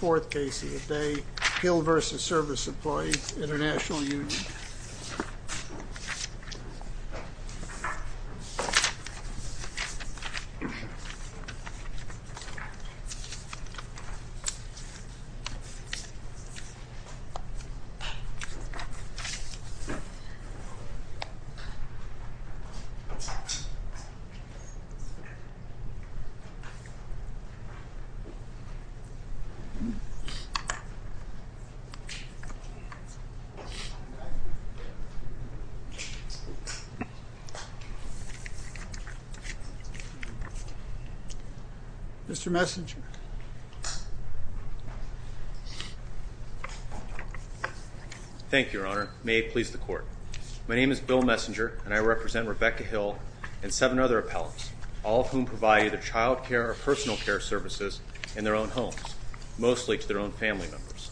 4th Casey a day, Hill v. Service Employees International Union. Mr. Messenger. Thank you, Your Honor. May it please the Court. My name is Bill Messenger, and I represent Rebecca Hill and seven other appellants, all of whom provide either child care or personal care services in their own homes, mostly to their own family members.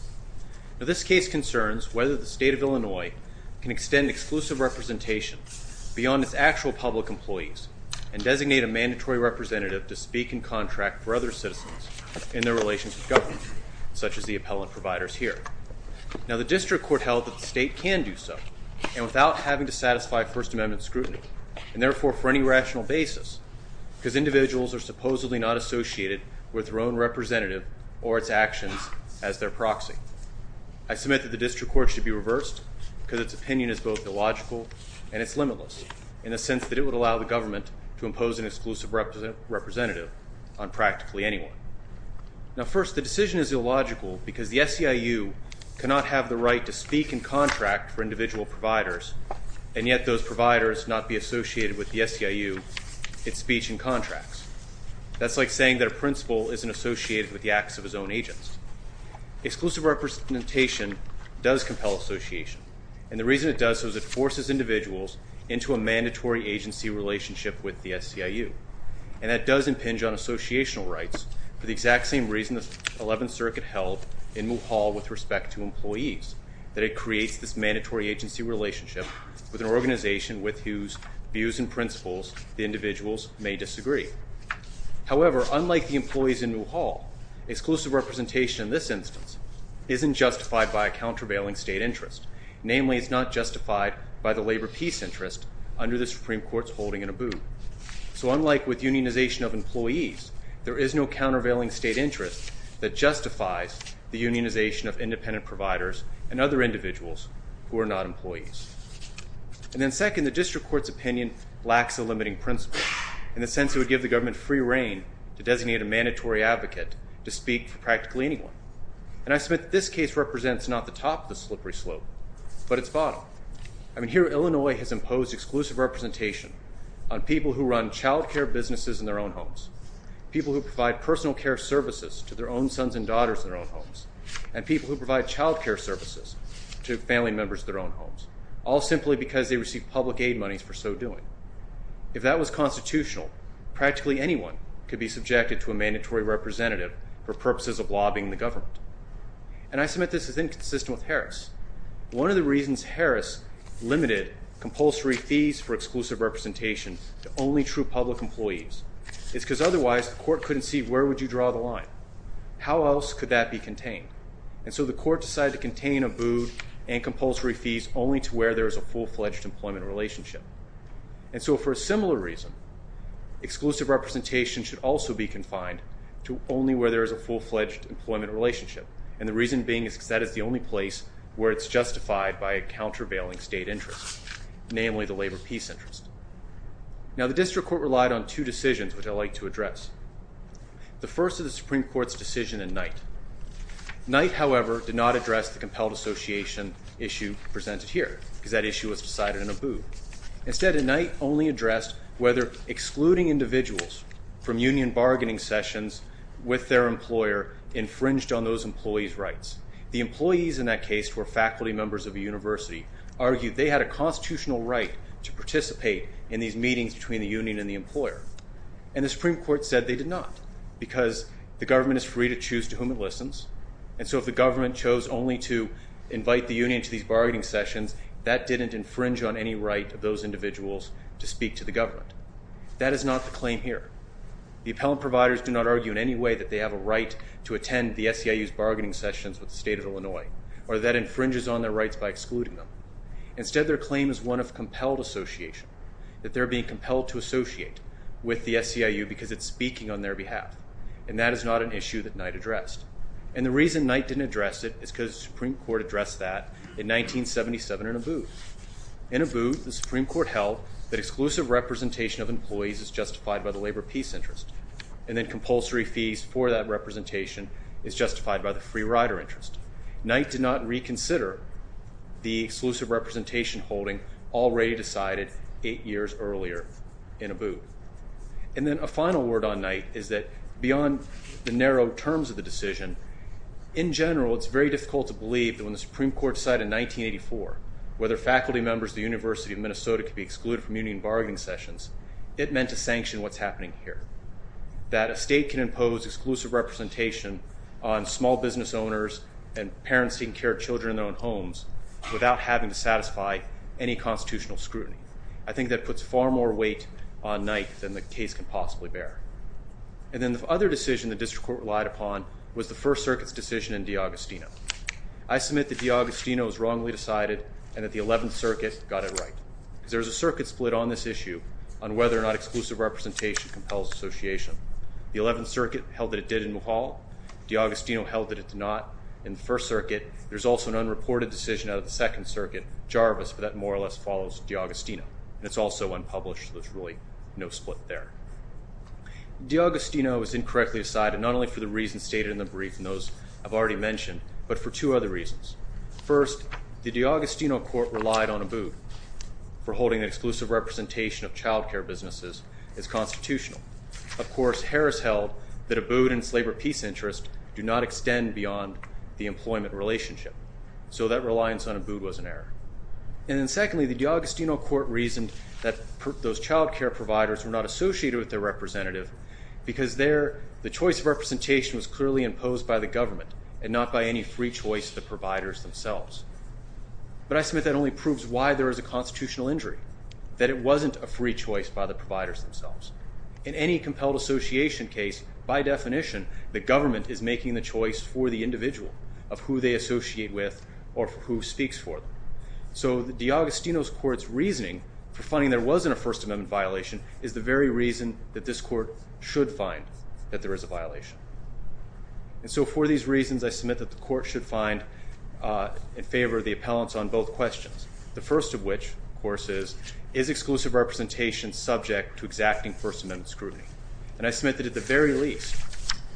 Now this case concerns whether the State of Illinois can extend exclusive representation beyond its actual public employees and designate a mandatory representative to speak and contract for other citizens in their relations with government, such as the appellant providers here. Now the District Court held that the State can do so, and without having to satisfy First Amendment scrutiny, and therefore for any rational basis, because individuals are supposedly not associated with their own representative or its actions as their proxy. I submit that the District Court should be reversed because its opinion is both illogical and it's limitless in the sense that it would allow the government to impose an exclusive representative on practically anyone. Now first, the decision is illogical because the SEIU cannot have the right to speak and contract for individual providers, and yet those providers not be associated with the SEIU in speech and contracts. That's like saying that a principal isn't associated with the acts of his own agents. Exclusive representation does compel association, and the reason it does so is it forces individuals into a mandatory agency relationship with the SEIU, and that does impinge on associational rights for the exact same reason the 11th Circuit held in Mulhall with respect to employees, that it creates this mandatory agency relationship with an organization with whose views and principles the individuals may disagree. However, unlike the employees in Mulhall, exclusive representation in this instance isn't justified by a countervailing state interest. Namely, it's not justified by the labor peace interest under the Supreme Court's holding in Abu. So unlike with unionization of employees, there is no countervailing state interest that justifies the unionization of independent providers and other individuals who are not employees. And then second, the district court's opinion lacks a limiting principle in the sense it would give the government free reign to designate a mandatory advocate to speak for practically anyone, and I submit that this case represents not the top of the slippery slope, but its bottom. I mean, here Illinois has imposed exclusive representation on people who run child care businesses in their own homes, people who provide personal care services to their own sons and daughters in their own homes, and people who provide child care services to family members in their own homes, all simply because they receive public aid monies for so doing. If that was constitutional, practically anyone could be subjected to a mandatory representative for purposes of lobbying the government, and I submit this is inconsistent with Harris. One of the reasons Harris limited compulsory fees for exclusive representation to only true public employees is because otherwise the court couldn't see where would you draw the line. How else could that be contained? And so the court decided to contain abode and compulsory fees only to where there is a full-fledged employment relationship. And so for a similar reason, exclusive representation should also be confined to only where there is a full-fledged employment relationship, and the reason being is because that is the only place where it's justified by a countervailing state interest, namely the labor peace interest. Now the district court relied on two decisions, which I'd like to address. The first is the Supreme Court's decision in Knight. Knight, however, did not address the compelled association issue presented here because that issue was decided in abode. Instead, in Knight, only addressed whether excluding individuals from union bargaining sessions with their employer infringed on those employees' rights. The employees in that case were faculty members of a university, argued they had a constitutional right to participate in these meetings between the union and the employer, and the Supreme Court said they did not because the government is free to choose to whom it listens, and so if the government chose only to invite the union to these bargaining sessions, that didn't infringe on any right of those individuals to speak to the government. That is not the claim here. The appellant providers do not argue in any way that they have a right to attend the SEIU's bargaining sessions with the state of Illinois or that infringes on their rights by excluding them. Instead, their claim is one of compelled association, that they're being compelled to associate with the SEIU because it's speaking on their behalf, and that is not an issue that Knight addressed. And the reason Knight didn't address it is because the Supreme Court addressed that in 1977 in abode. In abode, the Supreme Court held that exclusive representation of employees is justified by the labor peace interest and that compulsory fees for that representation is justified by the free rider interest. Knight did not reconsider the exclusive representation holding already decided eight years earlier in abode. And then a final word on Knight is that beyond the narrow terms of the decision, in general it's very difficult to believe that when the Supreme Court decided in 1984 it meant to sanction what's happening here, that a state can impose exclusive representation on small business owners and parents taking care of children in their own homes without having to satisfy any constitutional scrutiny. I think that puts far more weight on Knight than the case can possibly bear. And then the other decision the district court relied upon was the First Circuit's decision in DiAgostino. I submit that DiAgostino was wrongly decided and that the Eleventh Circuit got it right. Because there is a circuit split on this issue on whether or not exclusive representation compels association. The Eleventh Circuit held that it did in Mohal. DiAgostino held that it did not. In the First Circuit, there's also an unreported decision out of the Second Circuit, Jarvis, but that more or less follows DiAgostino. And it's also unpublished, so there's really no split there. DiAgostino was incorrectly decided not only for the reasons stated in the brief and those I've already mentioned, but for two other reasons. First, the DiAgostino court relied on Abood for holding the exclusive representation of child care businesses as constitutional. Of course, Harris held that Abood and its labor peace interest do not extend beyond the employment relationship. So that reliance on Abood was an error. And then secondly, the DiAgostino court reasoned that those child care providers were not associated with their representative because the choice of representation was clearly imposed by the government and not by any free choice of the providers themselves. But I submit that only proves why there is a constitutional injury, that it wasn't a free choice by the providers themselves. In any compelled association case, by definition, the government is making the choice for the individual of who they associate with or who speaks for them. So DiAgostino's court's reasoning for finding there wasn't a First Amendment violation is the very reason that this court should find that there is a violation. And so for these reasons, I submit that the court should find in favor of the appellants on both questions. The first of which, of course, is is exclusive representation subject to exacting First Amendment scrutiny? And I submit that at the very least,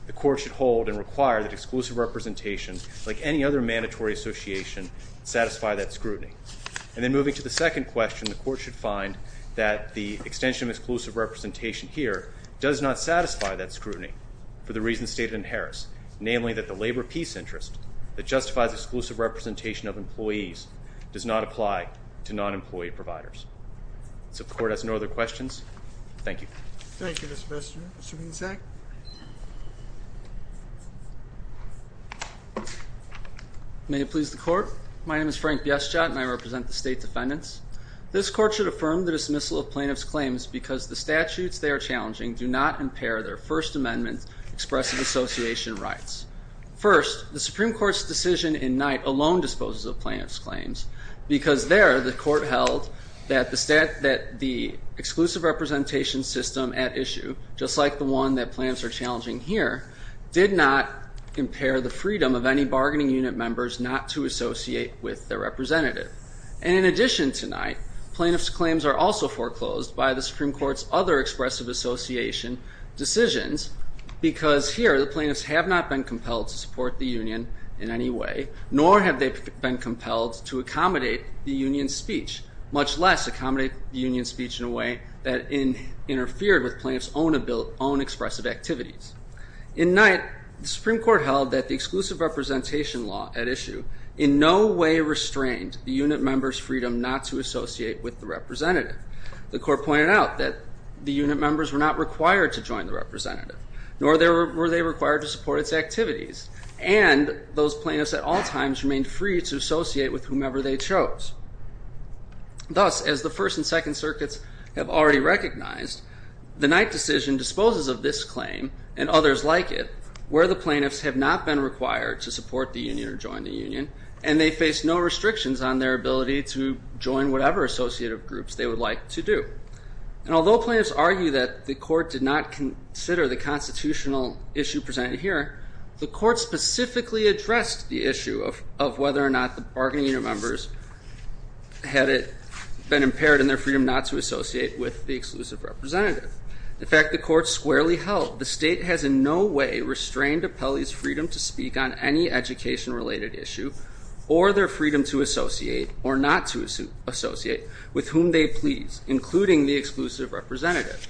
the court should hold and require that exclusive representation, like any other mandatory association, satisfy that scrutiny. And then moving to the second question, the court should find that the extension of exclusive representation here does not satisfy that scrutiny for the reasons stated in Harris, namely that the labor peace interest that justifies exclusive representation of employees does not apply to non-employee providers. So the court has no other questions. Thank you. Thank you, Mr. Bissett. Mr. Bissett? May it please the court? My name is Frank Bissett, and I represent the state defendants. This court should affirm the dismissal of plaintiffs' claims because the statutes they are challenging do not impair their First Amendment expressive association rights. First, the Supreme Court's decision in Knight alone disposes of plaintiffs' claims because there the court held that the exclusive representation system at issue, just like the one that plaintiffs are challenging here, did not impair the freedom of any bargaining unit members not to associate with their representative. And in addition to Knight, plaintiffs' claims are also foreclosed by the Supreme Court's other expressive association decisions because here the plaintiffs have not been compelled to support the union in any way, nor have they been compelled to accommodate the union's speech, much less accommodate the union's speech in a way that interfered with plaintiffs' own expressive activities. In Knight, the Supreme Court held that the exclusive representation law at issue in no way restrained the unit members' freedom not to associate with the representative. The court pointed out that the unit members were not required to join the representative, nor were they required to support its activities, and those plaintiffs at all times remained free to associate with whomever they chose. Thus, as the First and Second Circuits have already recognized, the Knight decision disposes of this claim and others like it where the plaintiffs have not been required to support the union or join the union, and they face no restrictions on their ability to join whatever associative groups they would like to do. And although plaintiffs argue that the court did not consider the constitutional issue presented here, the court specifically addressed the issue of whether or not the bargaining unit members had it been impaired in their freedom not to associate with the exclusive representative. In fact, the court squarely held the state has in no way restrained appellees' freedom to speak on any education-related issue or their freedom to associate or not to associate with whom they please, including the exclusive representative.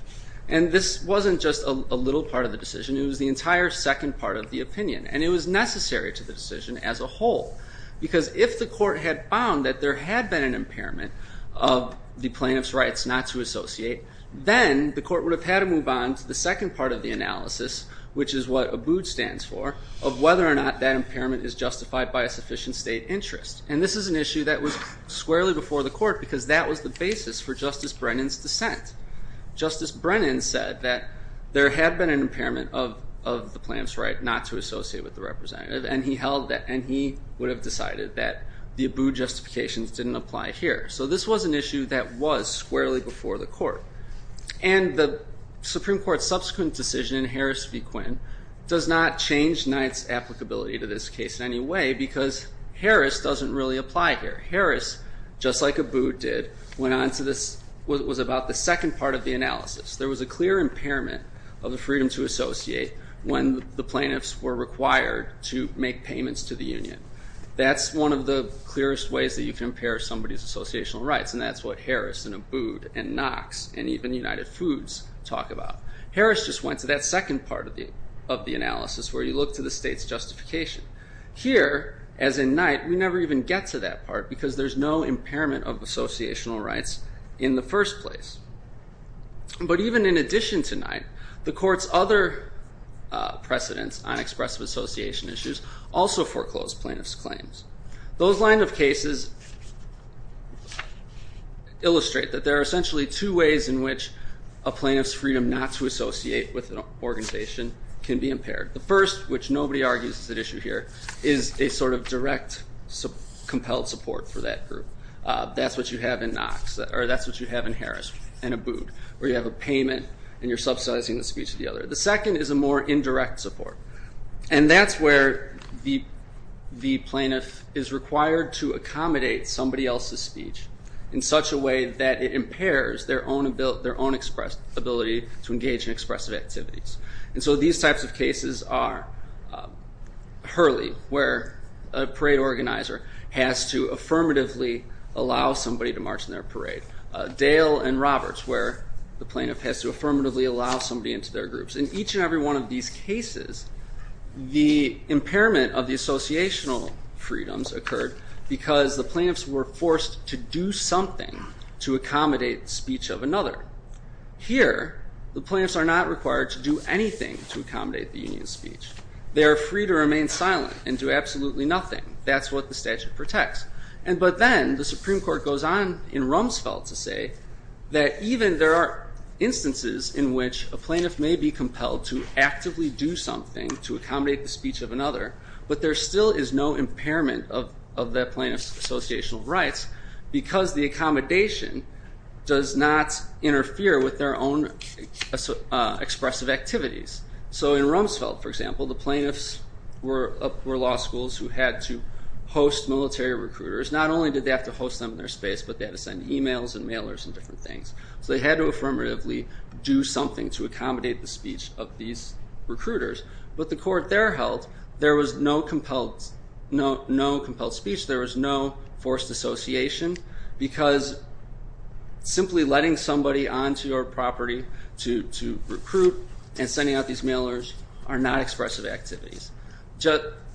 And this wasn't just a little part of the decision. It was the entire second part of the opinion, and it was necessary to the decision as a whole because if the court had found that there had been an impairment of the plaintiff's rights not to associate, then the court would have had to move on to the second part of the analysis, which is what ABUD stands for, of whether or not that impairment is justified by a sufficient state interest. And this is an issue that was squarely before the court because that was the basis for Justice Brennan's dissent. Justice Brennan said that there had been an impairment of the plaintiff's right not to associate with the representative, and he would have decided that the ABUD justifications didn't apply here. So this was an issue that was squarely before the court. And the Supreme Court's subsequent decision, Harris v. Quinn, does not change Knight's applicability to this case in any way because Harris doesn't really apply here. Harris, just like ABUD did, went on to this, was about the second part of the analysis. There was a clear impairment of the freedom to associate when the plaintiffs were required to make payments to the union. That's one of the clearest ways that you can impair somebody's associational rights, and that's what Harris and ABUD and Knox and even United Foods talk about. Harris just went to that second part of the analysis where you look to the state's justification. Here, as in Knight, we never even get to that part because there's no impairment of associational rights in the first place. But even in addition to Knight, the court's other precedents on expressive association issues also foreclosed plaintiffs' claims. Those lines of cases illustrate that there are essentially two ways in which a plaintiff's freedom not to associate with an organization can be impaired. The first, which nobody argues is at issue here, is a sort of direct compelled support for that group. That's what you have in Harris and ABUD, where you have a payment and you're subsidizing the speech of the other. The second is a more indirect support. And that's where the plaintiff is required to accommodate somebody else's speech in such a way that it impairs their own ability to engage in expressive activities. And so these types of cases are Hurley, where a parade organizer has to affirmatively allow somebody to march in their parade. Dale and Roberts, where the plaintiff has to affirmatively allow somebody into their groups. In each and every one of these cases, the impairment of the associational freedoms occurred because the plaintiffs were forced to do something to accommodate speech of another. Here, the plaintiffs are not required to do anything to accommodate the union's speech. They are free to remain silent and do absolutely nothing. That's what the statute protects. But then the Supreme Court goes on in Rumsfeld to say that even there are instances in which a plaintiff may be compelled to actively do something to accommodate the speech of another, but there still is no impairment of that plaintiff's associational rights because the accommodation does not interfere with their own expressive activities. So in Rumsfeld, for example, the plaintiffs were law schools who had to host military recruiters. Not only did they have to host them in their space, but they had to send emails and mailers and different things. So they had to affirmatively do something to accommodate the speech of these recruiters. But the court there held there was no compelled speech. There was no forced association because simply letting somebody onto your property to recruit and sending out these mailers are not expressive activities.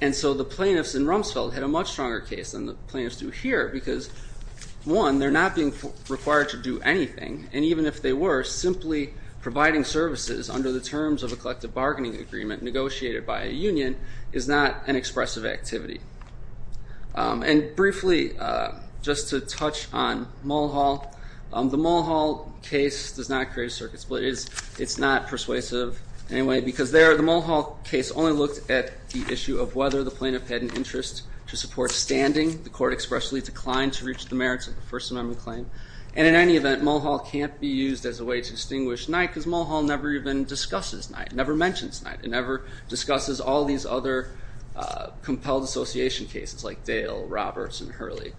And so the plaintiffs in Rumsfeld had a much stronger case than the plaintiffs do here because, one, they're not being required to do anything. And even if they were, simply providing services under the terms of a collective bargaining agreement negotiated by a union is not an expressive activity. And briefly, just to touch on Mulhall, the Mulhall case does not create a circuit split. It's not persuasive in any way because there the Mulhall case only looked at the issue of whether the plaintiff had an interest to support standing. The court expressly declined to reach the merits of the First Amendment claim. And in any event, Mulhall can't be used as a way to distinguish Knight because Mulhall never even discusses Knight, never mentions Knight, and never discusses all these other compelled association cases like Dale, Roberts, and Hurley.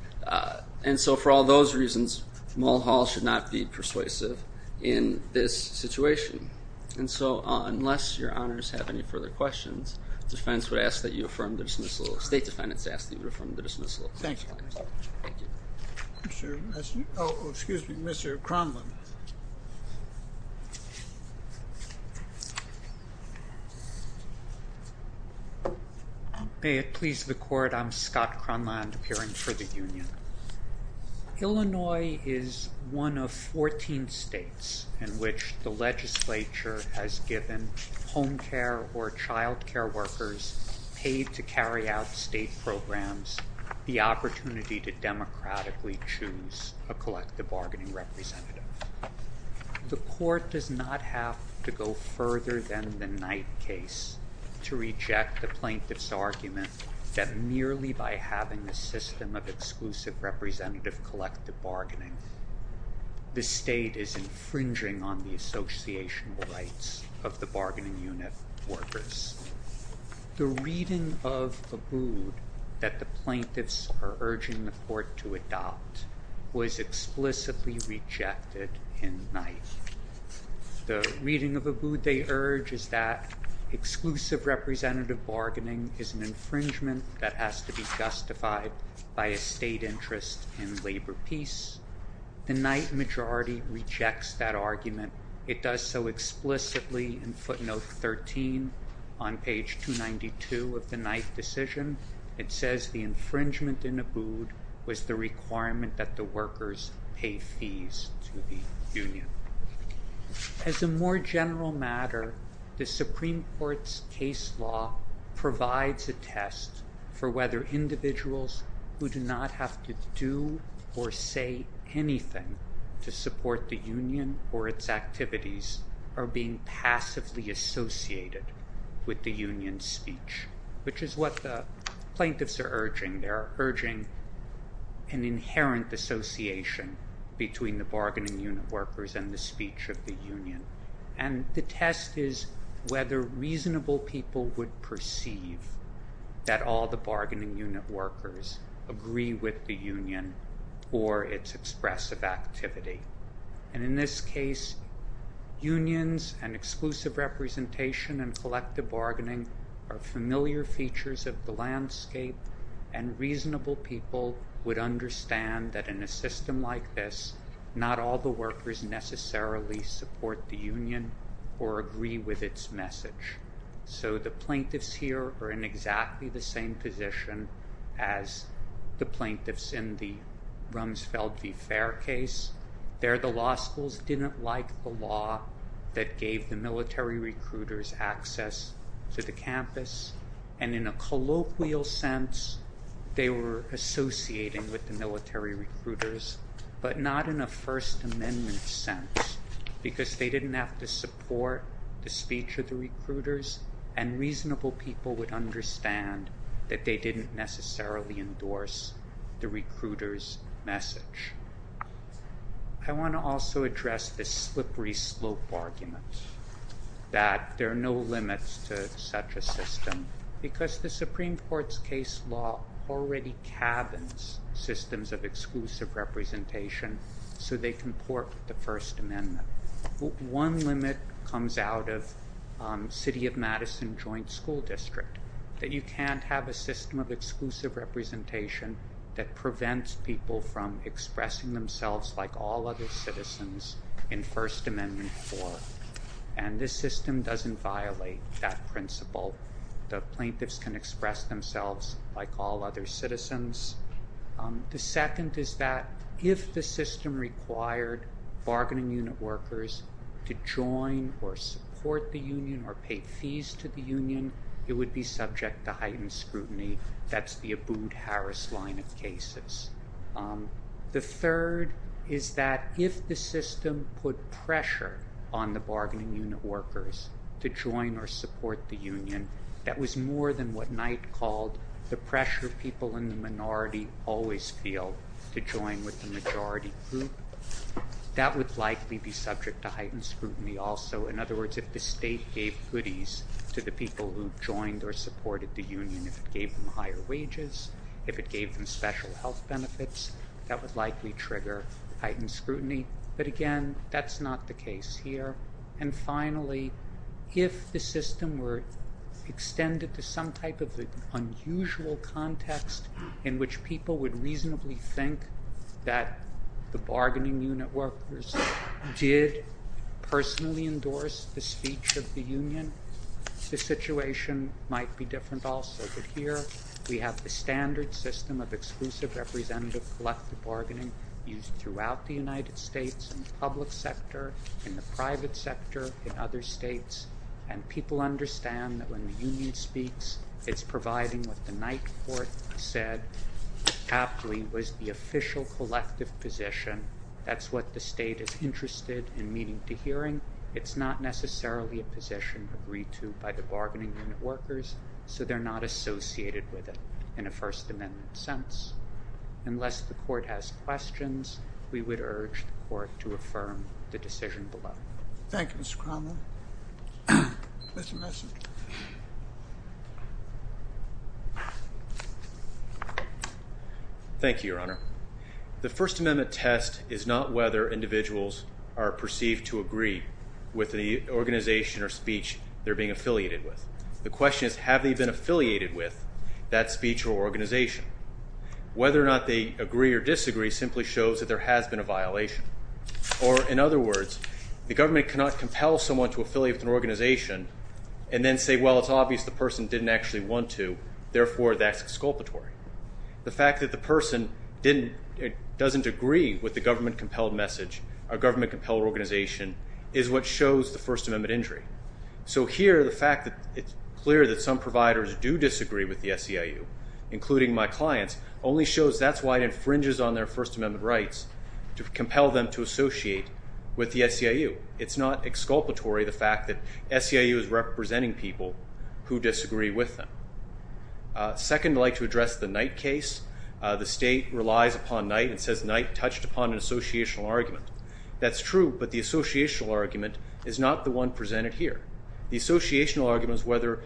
And so for all those reasons, Mulhall should not be persuasive in this situation. And so unless your honors have any further questions, defense would ask that you affirm the dismissal. State defendants ask that you affirm the dismissal. Thank you. Mr. Kronlund. May it please the court, I'm Scott Kronlund, appearing for the union. Illinois is one of 14 states in which the legislature has given home care or child care workers paid to carry out state programs the opportunity to democratically choose a collective bargaining representative. The court does not have to go further than the Knight case to reject the plaintiff's argument that merely by having a system of exclusive representative collective bargaining, the state is infringing on the associational rights of the bargaining unit workers. The reading of Abood that the plaintiffs are urging the court to adopt was explicitly rejected in Knight. The reading of Abood they urge is that exclusive representative bargaining is an infringement that has to be justified by a state interest in labor peace. The Knight majority rejects that argument. It does so explicitly in footnote 13 on page 292 of the Knight decision. It says the infringement in Abood was the requirement that the workers pay fees to the union. As a more general matter, the Supreme Court's case law provides a test for whether individuals who do not have to do or say anything to support the union or its activities are being passively associated with the union's speech, which is what the plaintiffs are urging. They're urging an inherent dissociation between the bargaining unit workers and the speech of the union. And the test is whether reasonable people would perceive that all the bargaining unit workers agree with the union or its expressive activity. And in this case, unions and exclusive representation and collective bargaining are familiar features of the landscape and reasonable people would understand that in a system like this, not all the workers necessarily support the union or agree with its message. So the plaintiffs here are in exactly the same position as the plaintiffs in the Rumsfeld v. Fair case. There, the law schools didn't like the law that gave the military recruiters access to the campus. And in a colloquial sense, they were associating with the military recruiters, but not in a First Amendment sense because they didn't have to support the speech of the recruiters and reasonable people would understand that they didn't necessarily endorse the recruiters' message. I want to also address the slippery slope argument that there are no limits to such a system because the Supreme Court's case law already cabins systems of exclusive representation so they can port the First Amendment. One limit comes out of City of Madison Joint School District, that you can't have a system of exclusive representation that prevents people from expressing themselves like all other citizens in First Amendment court. And this system doesn't violate that principle. The plaintiffs can express themselves like all other citizens. The second is that if the system required bargaining unit workers to join or support the union or pay fees to the union, it would be subject to heightened scrutiny. That's the Abboud-Harris line of cases. The third is that if the system put pressure on the bargaining unit workers to join or support the union, that was more than what Knight called the pressure people in the minority always feel to join with the majority group. That would likely be subject to heightened scrutiny also. In other words, if the state gave goodies to the people who joined or supported the union, if it gave them higher wages, if it gave them special health benefits, that would likely trigger heightened scrutiny. But again, that's not the case here. And finally, if the system were extended to some type of unusual context in which people would reasonably think that the bargaining unit workers did personally endorse the speech of the union, the situation might be different also. But here we have the standard system of exclusive representative collective bargaining used throughout the United States in the public sector, in the private sector, in other states. And people understand that when the union speaks, it's providing what the Knight Court said aptly was the official collective position. That's what the state is interested in meeting to hearing. It's not necessarily a position agreed to by the bargaining unit workers, so they're not associated with it in a First Amendment sense. Unless the court has questions, we would urge the court to affirm the decision below. Thank you, Mr. Cromwell. Mr. Messick. Thank you, Your Honor. The First Amendment test is not whether individuals are perceived to agree with the organization or speech they're being affiliated with. The question is, have they been affiliated with that speech or organization? Whether or not they agree or disagree simply shows that there has been a violation. Or, in other words, the government cannot compel someone to affiliate with an organization and then say, well, it's obvious the person didn't actually want to, therefore that's exculpatory. The fact that the person doesn't agree with the government-compelled organization is what shows the First Amendment injury. So here, the fact that it's clear that some providers do disagree with the SEIU, including my clients, only shows that's why it infringes on their First Amendment rights to compel them to associate with the SEIU. It's not exculpatory, the fact that SEIU is representing people who disagree with them. Second, I'd like to address the Knight case. The state relies upon Knight and says Knight touched upon an associational argument. That's true, but the associational argument is not the one presented here. The associational argument is whether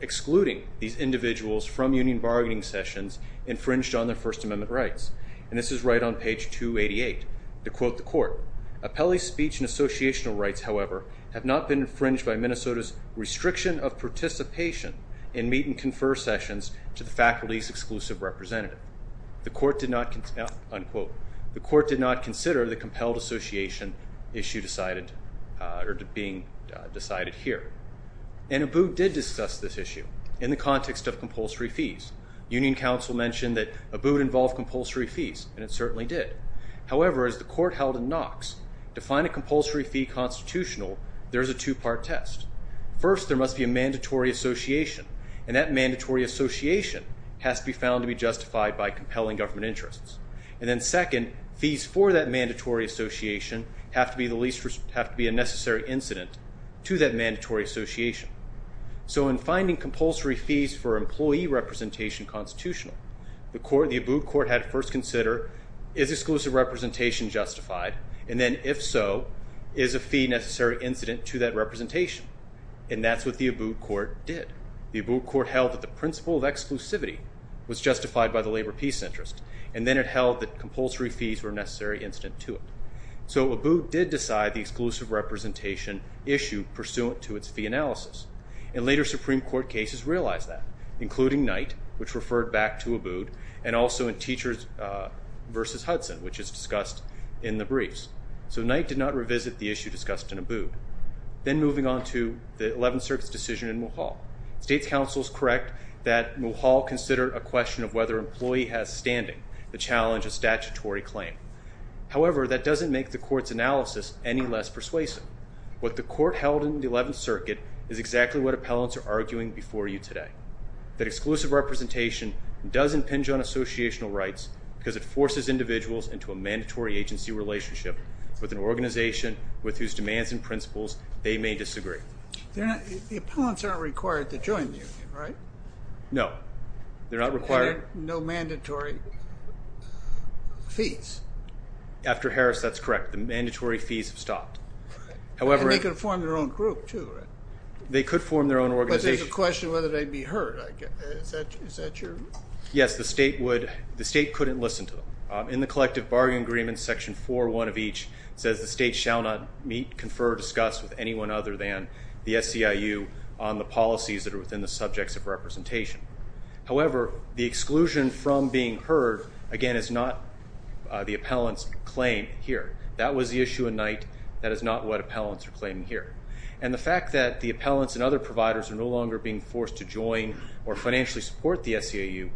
excluding these individuals from union bargaining sessions infringed on their First Amendment rights. And this is right on page 288. To quote the court, Appellee's speech and associational rights, however, have not been infringed by Minnesota's restriction of participation in meet-and-confer sessions to the faculty's exclusive representative. The court did not, unquote, the court did not consider the compelled association issue being decided here. And ABOOT did discuss this issue in the context of compulsory fees. Union Council mentioned that ABOOT involved compulsory fees, and it certainly did. However, as the court held in Knox, to find a compulsory fee constitutional, there's a two-part test. First, there must be a mandatory association, and that mandatory association has to be found to be justified by compelling government interests. And then second, fees for that mandatory association have to be a necessary incident to that mandatory association. So in finding compulsory fees for employee representation constitutional, the ABOOT court had to first consider, is exclusive representation justified? And then, if so, is a fee necessary incident to that representation? And that's what the ABOOT court did. The ABOOT court held that the principle of exclusivity was justified by the labor peace interest, and then it held that compulsory fees were a necessary incident to it. So ABOOT did decide the exclusive representation issue pursuant to its fee analysis. And later Supreme Court cases realized that, including Knight, which referred back to ABOOT, and also in Teachers v. Hudson, which is discussed in the briefs. So Knight did not revisit the issue discussed in ABOOT. Then moving on to the Eleventh Circuit's decision in Mulhall. State's counsel is correct that Mulhall considered a question of whether employee has standing, the challenge of statutory claim. However, that doesn't make the court's analysis any less persuasive. What the court held in the Eleventh Circuit is exactly what appellants are arguing before you today, that exclusive representation does impinge on associational rights because it forces individuals into a mandatory agency relationship with an organization with whose demands and principles they may disagree. The appellants aren't required to join the union, right? No. They're not required? No mandatory fees. After Harris, that's correct. The mandatory fees have stopped. And they could form their own group, too, right? They could form their own organization. But there's a question of whether they'd be heard. Is that true? Yes. The state couldn't listen to them. In the collective bargain agreement, section 4.1 of each, says the state shall not meet, confer, or discuss with anyone other than the SCIU on the policies that are within the subjects of representation. However, the exclusion from being heard, again, is not the appellant's claim here. That was the issue at night. That is not what appellants are claiming here. And the fact that the appellants and other providers are no longer being forced to join or financially support the SCIU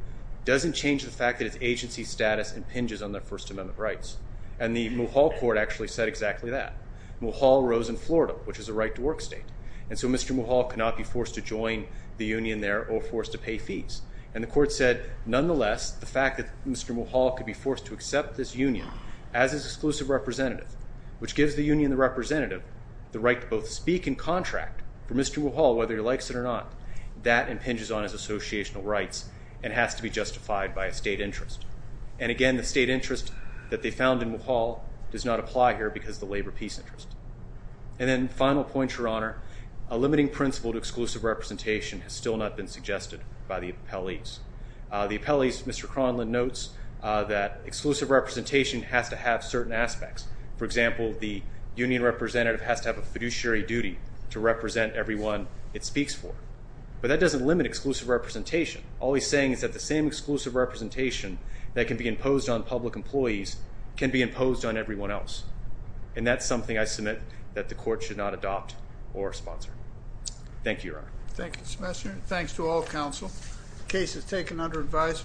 doesn't change the fact that its agency status impinges on their First Amendment rights. And the Mulhall Court actually said exactly that. Mulhall rose in Florida, which is a right-to-work state. And so Mr. Mulhall could not be forced to join the union there or forced to pay fees. And the court said, nonetheless, the fact that Mr. Mulhall could be forced to accept this union as his exclusive representative, which gives the union the representative, the right to both speak and contract for Mr. Mulhall, whether he likes it or not, that impinges on his associational rights and has to be justified by a state interest. And, again, the state interest that they found in Mulhall does not apply here because of the labor peace interest. And then final point, Your Honor. A limiting principle to exclusive representation has still not been suggested by the appellees. The appellees, Mr. Cronlund notes, that exclusive representation has to have certain aspects. For example, the union representative has to have a fiduciary duty to represent everyone it speaks for. But that doesn't limit exclusive representation. All he's saying is that the same exclusive representation that can be imposed on public employees can be imposed on everyone else. And that's something I submit that the court should not adopt or sponsor. Thank you, Your Honor. Thank you, Senator. Thanks to all counsel. The case is taken under advisement.